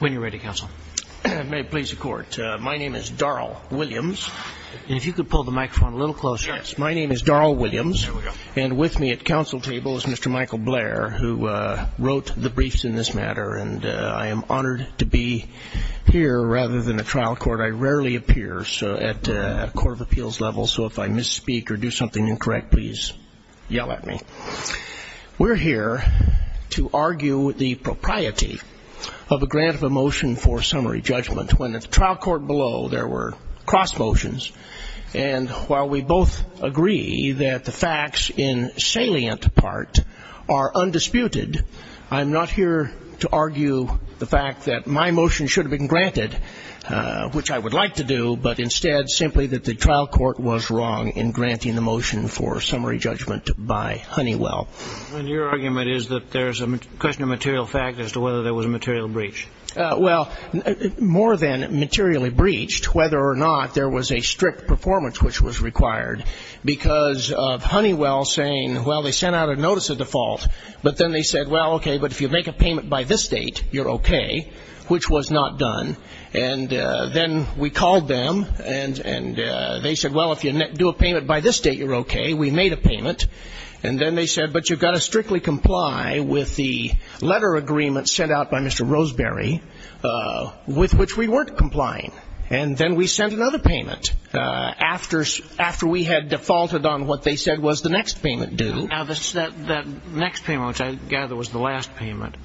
When you're ready, Counsel. May it please the Court. My name is Darrell Williams. If you could pull the microphone a little closer. Yes. My name is Darrell Williams. Here we go. And with me at counsel table is Mr. Michael Blair, who wrote the briefs in this matter. And I am honored to be here. Rather than a trial court, I rarely appear at a court of appeals level, so if I misspeak or do something incorrect, please yell at me. We're here to argue the propriety of a grant of a motion for summary judgment, when at the trial court below there were cross motions. And while we both agree that the facts in salient part are undisputed, I'm not here to argue the fact that my motion should have been granted, which I would like to do, but instead simply that the trial court was wrong in granting the motion for summary judgment by Honeywell. And your argument is that there's a question of material fact as to whether there was a material breach. Well, more than materially breached, whether or not there was a strict performance which was required because of Honeywell saying, well, they sent out a notice of default, but then they said, well, okay, but if you make a payment by this date, you're okay, which was not done. And then we called them, and they said, well, if you do a payment by this date, you're okay. We made a payment. And then they said, but you've got to strictly comply with the letter agreement sent out by Mr. Roseberry, with which we weren't complying. And then we sent another payment after we had defaulted on what they said was the next payment due. Now, that next payment, which I gather was the last payment.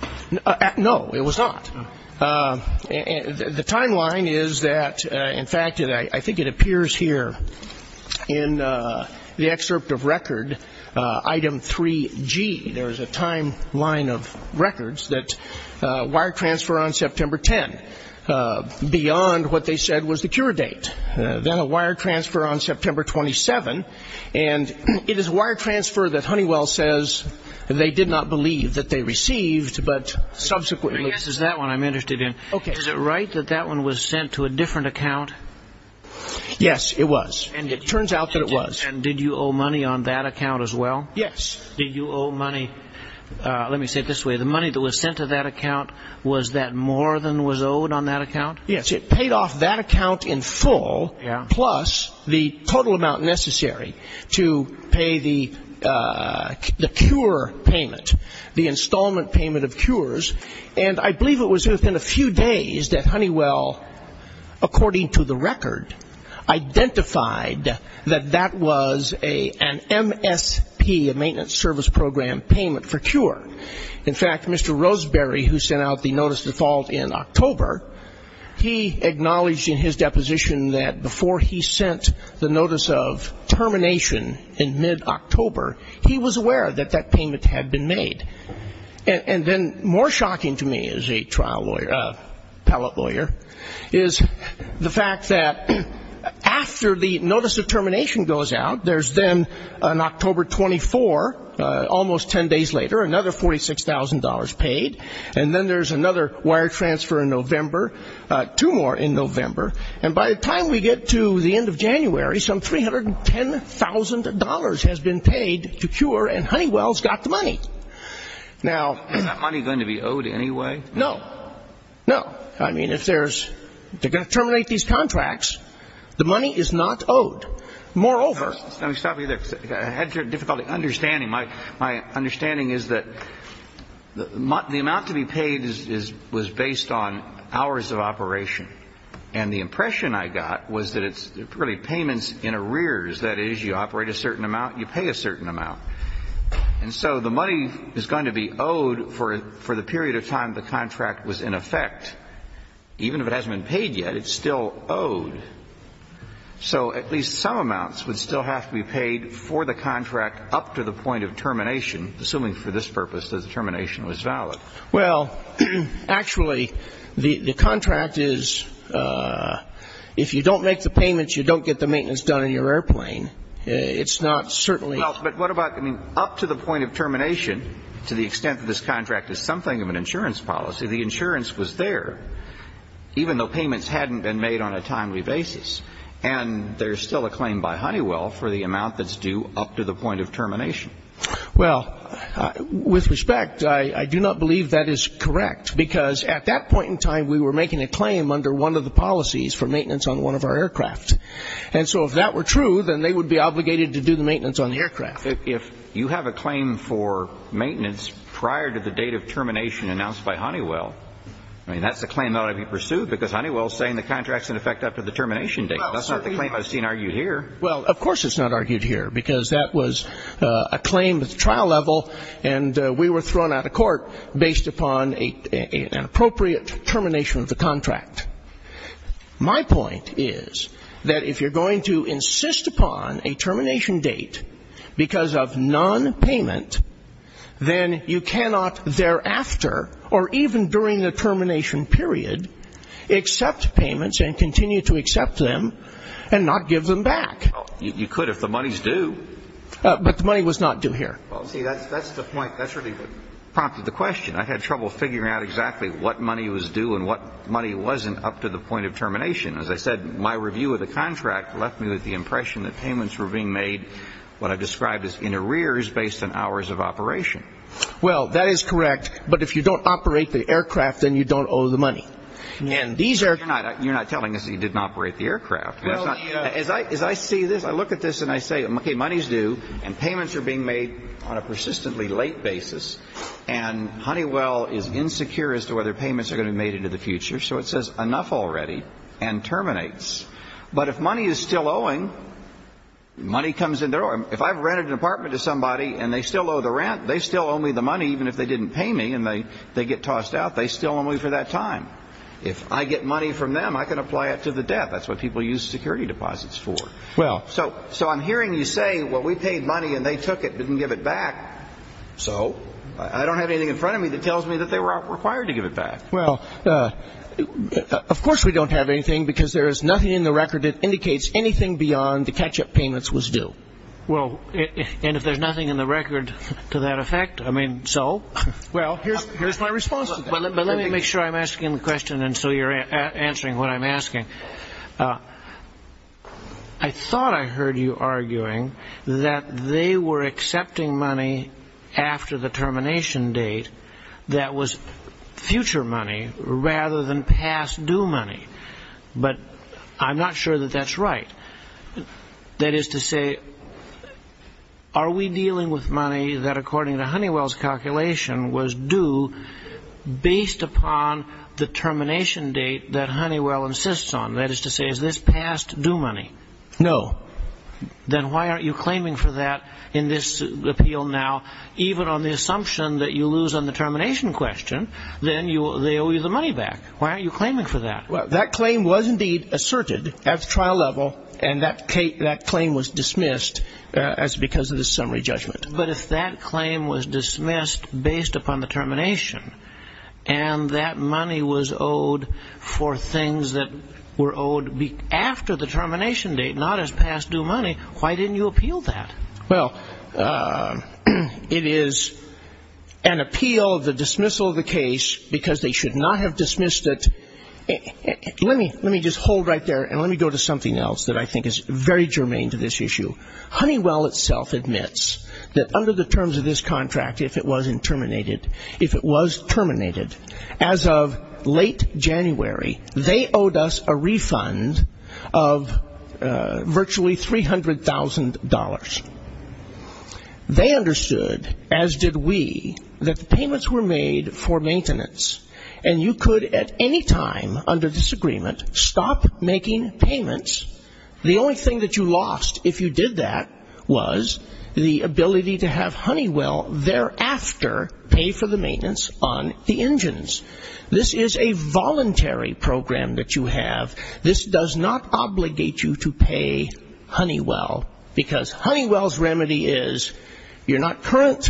No, it was not. The timeline is that, in fact, I think it appears here in the excerpt of record, item 3G. There is a timeline of records that wire transfer on September 10. Beyond what they said was the cure date. Then a wire transfer on September 27. And it is a wire transfer that Honeywell says they did not believe that they received, but subsequently. This is that one I'm interested in. Okay. Is it right that that one was sent to a different account? Yes, it was. And it turns out that it was. And did you owe money on that account as well? Yes. Did you owe money? Let me say it this way. The money that was sent to that account, was that more than was owed on that account? Yes. It paid off that account in full, plus the total amount necessary to pay the cure payment, the installment payment of cures. And I believe it was within a few days that Honeywell, according to the record, identified that that was an MSP, a maintenance service program payment for cure. In fact, Mr. Roseberry, who sent out the notice of default in October, he acknowledged in his deposition that before he sent the notice of termination in mid-October, he was aware that that payment had been made. And then more shocking to me as a trial lawyer, appellate lawyer, is the fact that after the notice of termination goes out, there's then on October 24, almost ten days later, another $46,000 paid. And then there's another wire transfer in November, two more in November. And by the time we get to the end of January, some $310,000 has been paid to cure and Honeywell's got the money. Now ---- Is that money going to be owed anyway? No. No. I mean, if there's they're going to terminate these contracts, the money is not owed. Moreover ---- Let me stop you there. I had difficulty understanding. My understanding is that the amount to be paid was based on hours of operation. And the impression I got was that it's really payments in arrears. That is, you operate a certain amount, you pay a certain amount. And so the money is going to be owed for the period of time the contract was in effect. Even if it hasn't been paid yet, it's still owed. So at least some amounts would still have to be paid for the contract up to the point of termination, assuming for this purpose that the termination was valid. Well, actually, the contract is, if you don't make the payments, you don't get the maintenance done on your airplane. It's not certainly ---- Well, but what about, I mean, up to the point of termination, to the extent that this contract is something of an insurance policy, the insurance was there even though payments hadn't been made on a timely basis. And there's still a claim by Honeywell for the amount that's due up to the point of termination. Well, with respect, I do not believe that is correct because at that point in time, we were making a claim under one of the policies for maintenance on one of our aircraft. And so if that were true, then they would be obligated to do the maintenance on the aircraft. If you have a claim for maintenance prior to the date of termination announced by Honeywell, I mean, that's a claim that ought to be pursued because Honeywell is saying the contract is in effect up to the termination date. That's not the claim I've seen argued here. Well, of course it's not argued here because that was a claim at the trial level, and we were thrown out of court based upon an appropriate termination of the contract. My point is that if you're going to insist upon a termination date because of nonpayment, then you cannot thereafter or even during the termination period accept payments and continue to accept them and not give them back. You could if the money's due. But the money was not due here. Well, see, that's the point. That's really what prompted the question. I had trouble figuring out exactly what money was due and what money wasn't up to the point of termination. As I said, my review of the contract left me with the impression that payments were being made, what I've described as in arrears based on hours of operation. Well, that is correct. But if you don't operate the aircraft, then you don't owe the money. You're not telling us that you didn't operate the aircraft. As I see this, I look at this and I say, okay, money's due, and payments are being made on a persistently late basis, and Honeywell is insecure as to whether payments are going to be made into the future. So it says enough already and terminates. But if money is still owing, money comes in. If I've rented an apartment to somebody and they still owe the rent, they still owe me the money even if they didn't pay me and they get tossed out. They still owe me for that time. If I get money from them, I can apply it to the debt. That's what people use security deposits for. So I'm hearing you say, well, we paid money and they took it, didn't give it back. So I don't have anything in front of me that tells me that they were required to give it back. Well, of course we don't have anything because there is nothing in the record that indicates anything beyond the catch-up payments was due. Well, and if there's nothing in the record to that effect, I mean, so? Well, here's my response to that. But let me make sure I'm asking the question and so you're answering what I'm asking. I thought I heard you arguing that they were accepting money after the termination date that was future money rather than past due money. But I'm not sure that that's right. That is to say, are we dealing with money that, according to Honeywell's calculation, was due based upon the termination date that Honeywell insists on? That is to say, is this past due money? No. Then why aren't you claiming for that in this appeal now? Even on the assumption that you lose on the termination question, then they owe you the money back. Why aren't you claiming for that? Well, that claim was indeed asserted at the trial level and that claim was dismissed because of the summary judgment. But if that claim was dismissed based upon the termination and that money was owed for things that were owed after the termination date, not as past due money, why didn't you appeal that? Well, it is an appeal of the dismissal of the case because they should not have dismissed it. Let me just hold right there and let me go to something else that I think is very germane to this issue. Honeywell itself admits that under the terms of this contract, if it was terminated, as of late January, they owed us a refund of virtually $300,000. They understood, as did we, that the payments were made for maintenance and you could at any time under this agreement stop making payments. The only thing that you lost if you did that was the ability to have Honeywell thereafter pay for the maintenance on the engines. This is a voluntary program that you have. This does not obligate you to pay Honeywell because Honeywell's remedy is you're not current,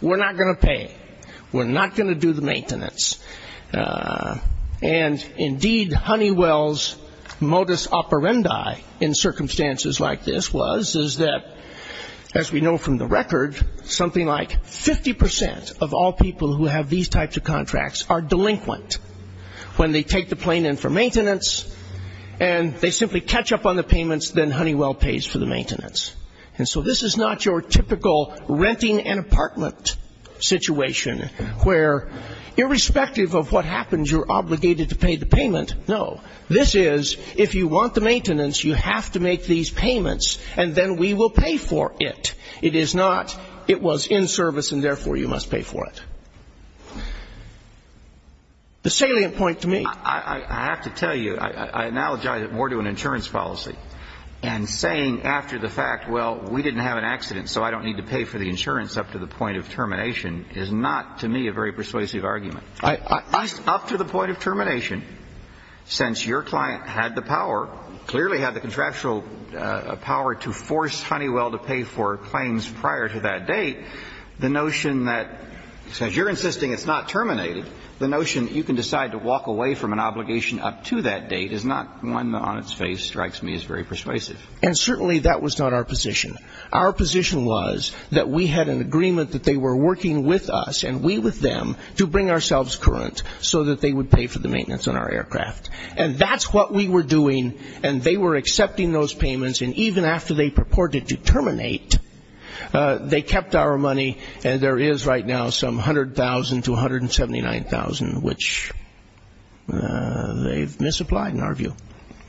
we're not going to pay. We're not going to do the maintenance. And, indeed, Honeywell's modus operandi in circumstances like this was, is that, as we know from the record, something like 50% of all people who have these types of contracts are delinquent when they take the plane in for maintenance and they simply catch up on the payments, then Honeywell pays for the maintenance. And so this is not your typical renting an apartment situation where, irrespective of what happens, you're obligated to pay the payment. No. This is, if you want the maintenance, you have to make these payments and then we will pay for it. It is not, it was in service and, therefore, you must pay for it. The salient point to me --" I have to tell you, I analogize it more to an insurance policy, and saying after the fact, well, we didn't have an accident so I don't need to pay for the insurance up to the point of termination, is not, to me, a very persuasive argument. Up to the point of termination, since your client had the power, clearly had the contractual power to force Honeywell to pay for claims prior to that date, the notion that, since you're insisting it's not terminated, the notion that you can decide to walk away from an obligation up to that date is not one that, on its face, strikes me as very persuasive. And certainly that was not our position. Our position was that we had an agreement that they were working with us and we with them to bring ourselves current so that they would pay for the maintenance on our aircraft. And that's what we were doing, and they were accepting those payments, and even after they purported to terminate, they kept our money, and there is right now some $100,000 to $179,000, which they've misapplied in our view.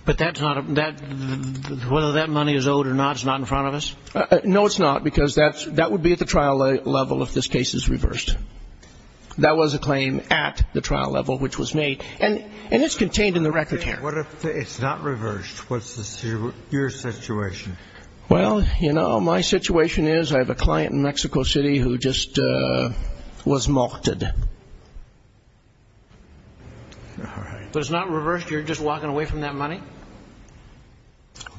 But whether that money is owed or not is not in front of us? No, it's not, because that would be at the trial level if this case is reversed. That was a claim at the trial level which was made, and it's contained in the record here. What if it's not reversed? What's your situation? Well, you know, my situation is I have a client in Mexico City who just was morted. All right. But it's not reversed? You're just walking away from that money?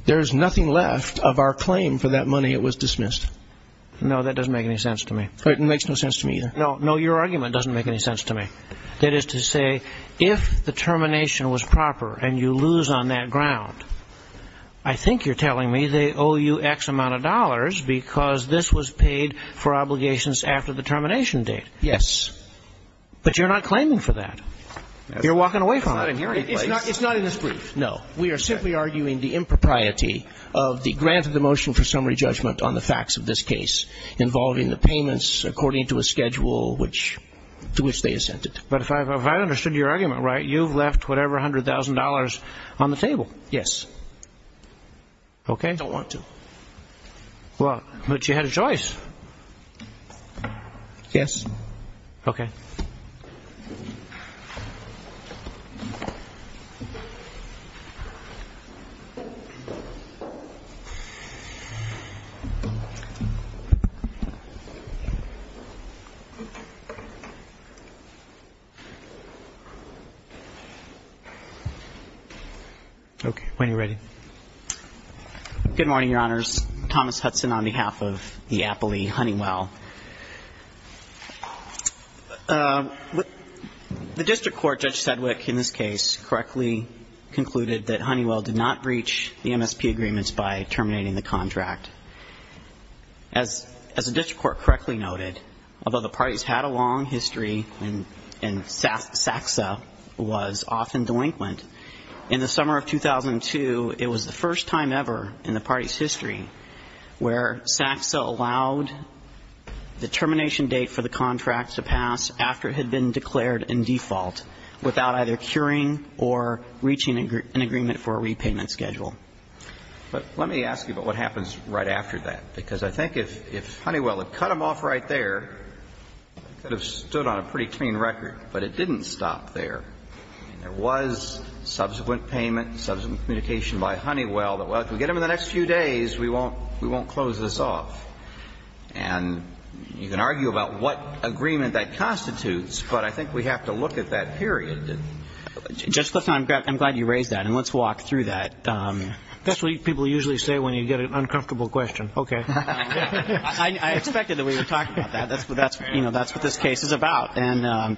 There is nothing left of our claim for that money. It was dismissed. No, that doesn't make any sense to me. It makes no sense to me either. No, your argument doesn't make any sense to me. That is to say, if the termination was proper and you lose on that ground, I think you're telling me they owe you X amount of dollars because this was paid for obligations after the termination date. Yes. But you're not claiming for that. You're walking away from it. It's not in this brief. No. We are simply arguing the impropriety of the grant of the motion for summary judgment on the facts of this case involving the payments according to a schedule to which they assented. But if I understood your argument right, you've left whatever $100,000 on the table. Yes. Okay. I don't want to. But you had a choice. Yes. Okay. Okay. When you're ready. Good morning, Your Honors. Thomas Hudson on behalf of the Appley Honeywell. The district court, Judge Sedwick, in this case, correctly concluded that Honeywell did not breach the MSP agreements by terminating the contract. As the district court correctly noted, although the parties had a long history and SACSA was often delinquent, in the summer of 2002, it was the first time ever in the party's history where SACSA allowed the termination date for the contract to pass after it had been declared in default without either curing or reaching an agreement for a repayment schedule. But let me ask you about what happens right after that, because I think if Honeywell had cut them off right there, it could have stood on a pretty clean record. But it didn't stop there. There was subsequent payment, subsequent communication by Honeywell that, well, if we get them in the next few days, we won't close this off. And you can argue about what agreement that constitutes, but I think we have to look at that period. Justice Hudson, I'm glad you raised that, and let's walk through that. That's what people usually say when you get an uncomfortable question. Okay. I expected that we would talk about that. That's what this case is about. And,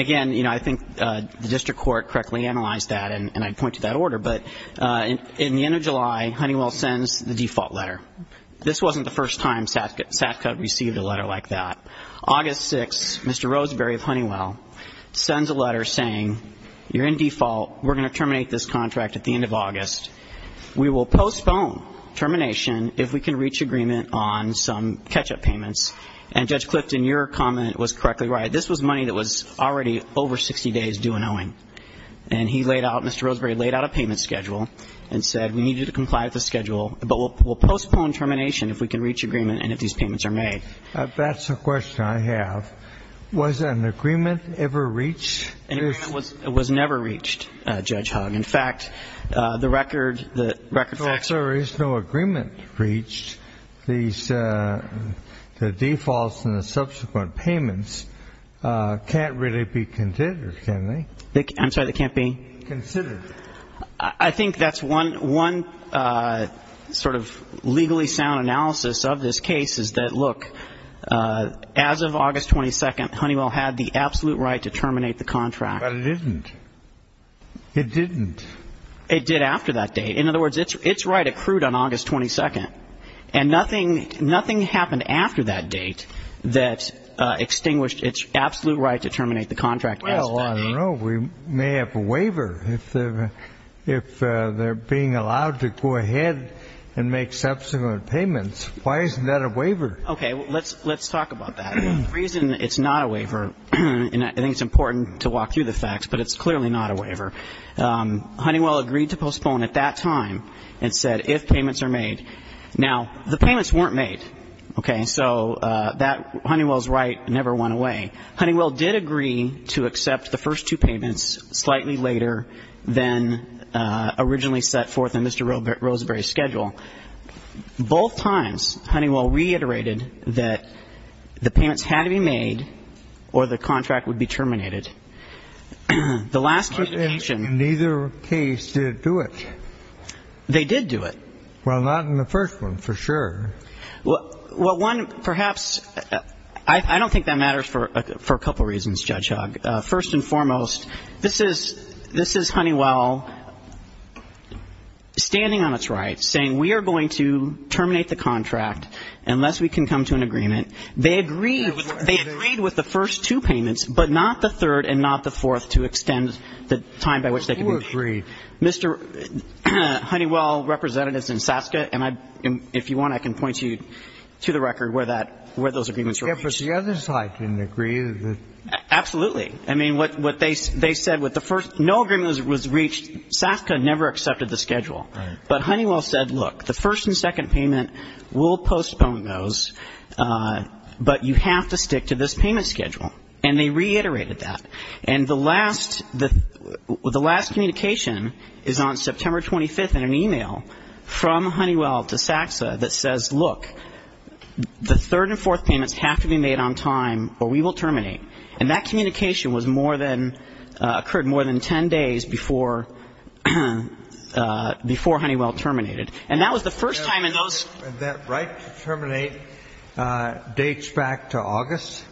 again, I think the district court correctly analyzed that, and I'd point to that order. But in the end of July, Honeywell sends the default letter. This wasn't the first time SACSA received a letter like that. August 6, Mr. Roseberry of Honeywell sends a letter saying, you're in default, we're going to terminate this contract at the end of August. We will postpone termination if we can reach agreement on some catch-up payments. And Judge Clifton, your comment was correctly read. This was money that was already over 60 days due and owing. And he laid out, Mr. Roseberry laid out a payment schedule and said, we need you to comply with the schedule, but we'll postpone termination if we can reach agreement and if these payments are made. That's a question I have. Was an agreement ever reached? An agreement was never reached, Judge Hogg. In fact, the record facts are no agreement reached. The defaults and the subsequent payments can't really be considered, can they? I'm sorry, they can't be? Considered. I think that's one sort of legally sound analysis of this case is that, look, as of August 22, Honeywell had the absolute right to terminate the contract. But it didn't. It didn't. It did after that date. In other words, its right accrued on August 22. And nothing happened after that date that extinguished its absolute right to terminate the contract. Well, I don't know. We may have a waiver if they're being allowed to go ahead and make subsequent payments. Why isn't that a waiver? Okay. Let's talk about that. The reason it's not a waiver, and I think it's important to walk through the facts, but it's clearly not a waiver. Honeywell agreed to postpone at that time and said if payments are made. Now, the payments weren't made. Okay. So Honeywell's right never went away. Honeywell did agree to accept the first two payments slightly later than originally set forth in Mr. Roseberry's schedule. Both times Honeywell reiterated that the payments had to be made or the contract would be terminated. The last communication. In neither case did it do it. They did do it. Well, not in the first one, for sure. Well, one, perhaps, I don't think that matters for a couple reasons, Judge Hogg. First and foremost, this is Honeywell standing on its right saying we are going to terminate the contract unless we can come to an agreement. They agreed with the first two payments, but not the third and not the fourth to extend the time by which they can be made. Who agreed? Mr. Honeywell, representatives in SASCA, and if you want, I can point you to the record where that, where those agreements were reached. Yeah, but the other side didn't agree. Absolutely. I mean, what they said with the first, no agreement was reached. SASCA never accepted the schedule. Right. But Honeywell said, look, the first and second payment, we'll postpone those, but you have to stick to this payment schedule. And they reiterated that. And the last, the last communication is on September 25th in an e-mail from Honeywell to SASCA that says, look, the third and fourth payments have to be made on time or we will terminate. And that communication was more than, occurred more than ten days before, before Honeywell terminated. And that was the first time in those. And that right to terminate dates back to August?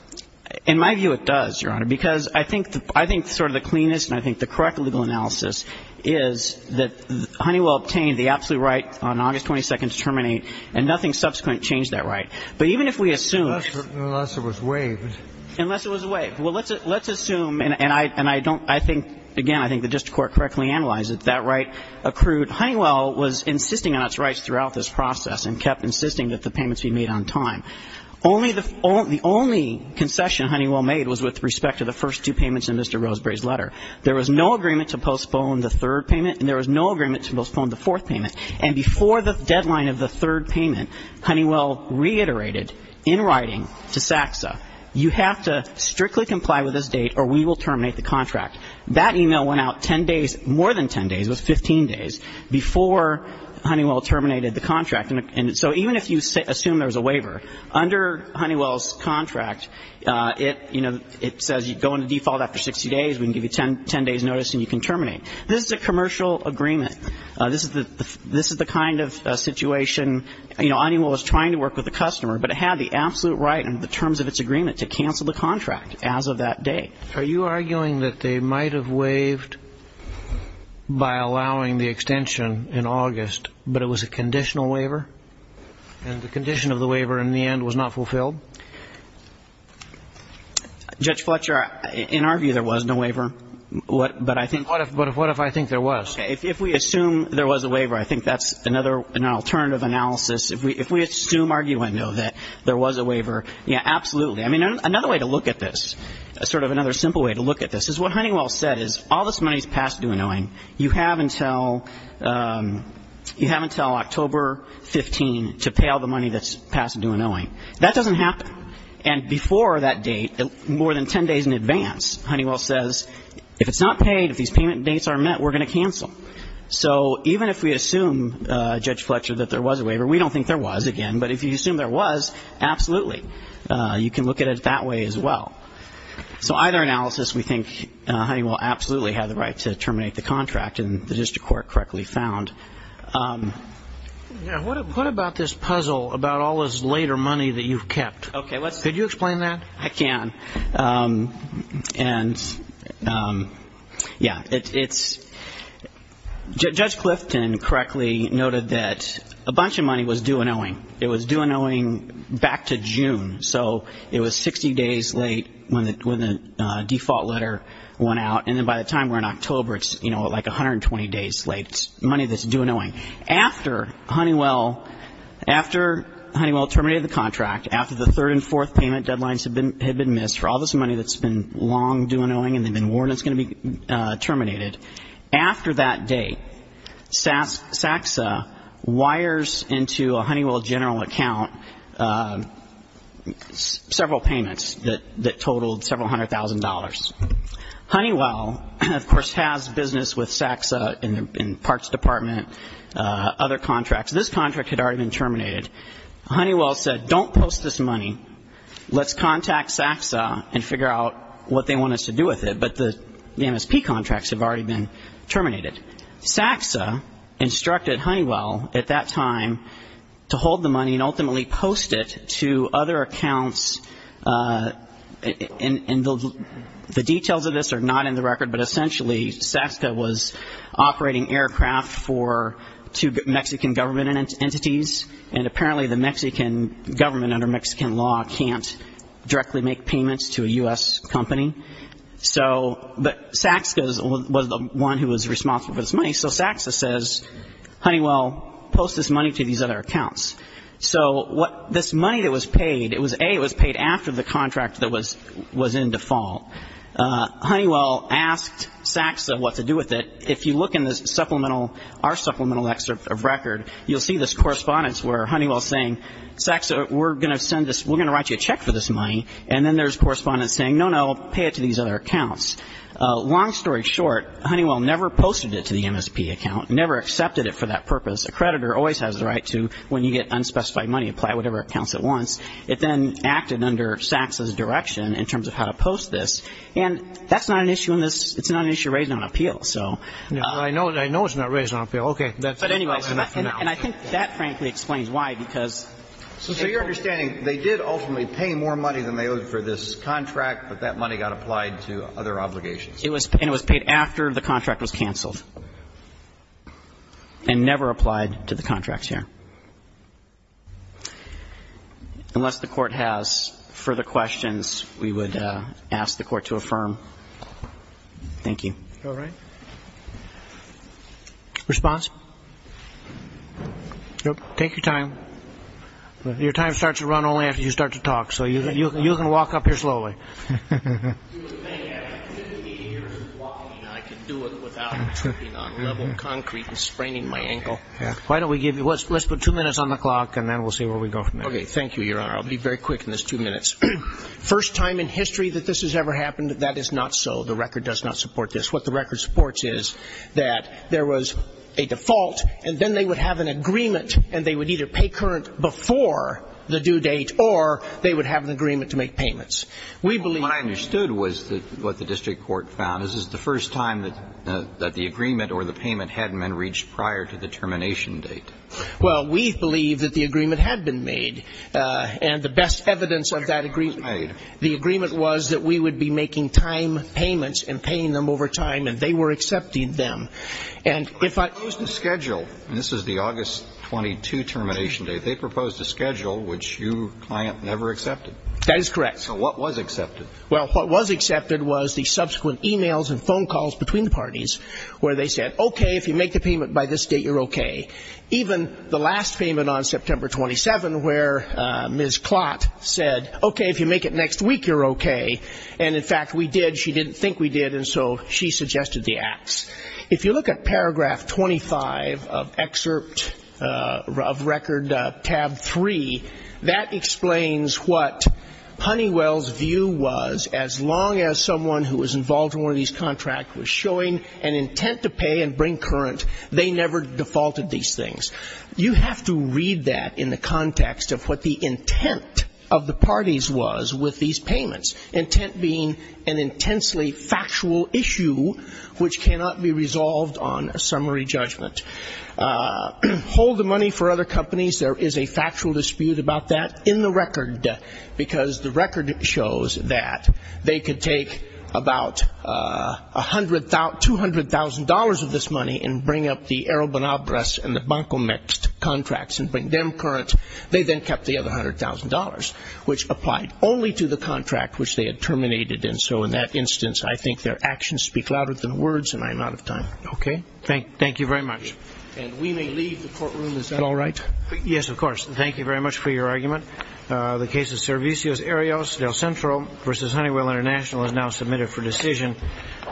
In my view, it does, Your Honor, because I think the, I think sort of the cleanest and I think the correct legal analysis is that Honeywell obtained the absolute right on August 22nd to terminate, and nothing subsequent changed that right. But even if we assume. Unless it was waived. Unless it was waived. Well, let's assume, and I don't, I think, again, I think the district court correctly analyzed it, that right accrued. Honeywell was insisting on its rights throughout this process and kept insisting that the payments be made on time. Only the, the only concession Honeywell made was with respect to the first two payments in Mr. Roseberry's letter. There was no agreement to postpone the third payment, and there was no agreement to postpone the fourth payment. And before the deadline of the third payment, Honeywell reiterated in writing to SACSA, you have to strictly comply with this date or we will terminate the contract. That e-mail went out 10 days, more than 10 days, it was 15 days, before Honeywell terminated the contract. And so even if you assume there's a waiver, under Honeywell's contract, it, you know, it says you go into default after 60 days, we can give you 10 days' notice and you can terminate. This is a commercial agreement. This is the, this is the kind of situation, you know, Honeywell was trying to work with the customer, but it had the absolute right under the terms of its agreement to cancel the contract as of that date. Are you arguing that they might have waived by allowing the extension in August, but it was a conditional waiver? And the condition of the waiver in the end was not fulfilled? Judge Fletcher, in our view, there was no waiver. But I think. But what if I think there was? If we assume there was a waiver, I think that's another, an alternative analysis. If we assume, argue and know that there was a waiver, yeah, absolutely. I mean, another way to look at this, sort of another simple way to look at this, is what Honeywell said is all this money is past due and owing. You have until, you have until October 15 to pay all the money that's past due and owing. That doesn't happen. And before that date, more than 10 days in advance, Honeywell says if it's not paid, if these payment dates aren't met, we're going to cancel. So even if we assume, Judge Fletcher, that there was a waiver, we don't think there was, again. But if you assume there was, absolutely. You can look at it that way as well. So either analysis, we think Honeywell absolutely had the right to terminate the contract, and the district court correctly found. What about this puzzle about all this later money that you've kept? Could you explain that? I can. And, yeah, it's, Judge Clifton correctly noted that a bunch of money was due and owing. It was due and owing back to June. So it was 60 days late when the default letter went out. And then by the time we're in October, it's, you know, like 120 days late. It's money that's due and owing. After Honeywell, after Honeywell terminated the contract, after the third and fourth payment deadlines had been missed for all this money that's been long due and owing and they've been warned it's going to be terminated, after that date, SACSA wires into a Honeywell general account several payments that totaled several hundred thousand dollars. Honeywell, of course, has business with SACSA in the parts department, other contracts. This contract had already been terminated. Honeywell said, don't post this money. Let's contact SACSA and figure out what they want us to do with it. But the MSP contracts have already been terminated. SACSA instructed Honeywell at that time to hold the money and ultimately post it to other accounts. And the details of this are not in the record, but essentially SACSA was operating aircraft for two Mexican government entities, and apparently the Mexican government under Mexican law can't directly make payments to a U.S. company. So, but SACSA was the one who was responsible for this money. So SACSA says, Honeywell, post this money to these other accounts. So what this money that was paid, it was A, it was paid after the contract that was in default. Honeywell asked SACSA what to do with it. If you look in the supplemental, our supplemental excerpt of record, you'll see this correspondence where Honeywell is saying, SACSA, we're going to send this, we're going to write you a check for this money. And then there's correspondence saying, no, no, pay it to these other accounts. Long story short, Honeywell never posted it to the MSP account, never accepted it for that purpose. A creditor always has the right to, when you get unspecified money, apply it to whatever accounts it wants. It then acted under SACSA's direction in terms of how to post this. And that's not an issue in this, it's not an issue raised on appeal, so. I know it's not raised on appeal. Okay. But anyway, and I think that frankly explains why, because. So you're understanding they did ultimately pay more money than they owed for this contract, but that money got applied to other obligations. It was paid after the contract was canceled and never applied to the contracts here. Unless the Court has further questions, we would ask the Court to affirm. Thank you. All right. Response? Nope. Take your time. Your time starts to run only after you start to talk, so you can walk up here slowly. You would think after 58 years of walking I could do it without tripping on level concrete and spraining my ankle. Let's put two minutes on the clock, and then we'll see where we go from there. Okay. Thank you, Your Honor. I'll be very quick in this two minutes. First time in history that this has ever happened, that is not so. The record does not support this. What the record supports is that there was a default, and then they would have an agreement, and they would either pay current before the due date, or they would have an agreement to make payments. What I understood was what the district court found, this is the first time that the agreement or the payment hadn't been reached prior to the termination date. Well, we believe that the agreement had been made, and the best evidence of that agreement, the agreement was that we would be making time payments and paying them over time, and they were accepting them. And if I use the schedule, and this is the August 22 termination date, they proposed a schedule which you, client, never accepted. That is correct. So what was accepted? Well, what was accepted was the subsequent e-mails and phone calls between the parties where they said, okay, if you make the payment by this date, you're okay. Even the last payment on September 27 where Ms. Klott said, okay, if you make it next week, you're okay. And, in fact, we did. She didn't think we did, and so she suggested the acts. If you look at Paragraph 25 of Excerpt of Record Tab 3, that explains what Honeywell's view was as long as someone who was involved in one of these contracts was showing an intent to pay and bring current, they never defaulted these things. You have to read that in the context of what the intent of the parties was with these payments, intent being an intensely factual issue which cannot be resolved on a summary judgment. Hold the money for other companies. There is a factual dispute about that in the record, because the record shows that they could take about $200,000 of this money and bring up the Arrobanabras and the Bancomext contracts and bring them current. They then kept the other $100,000, which applied only to the contract which they had terminated. And so, in that instance, I think their actions speak louder than words, and I'm out of time. Okay. Thank you very much. And we may leave the courtroom. Is that all right? Yes, of course. Thank you very much for your argument. The case of Servicios Arias del Centro v. Honeywell International is now submitted for decision.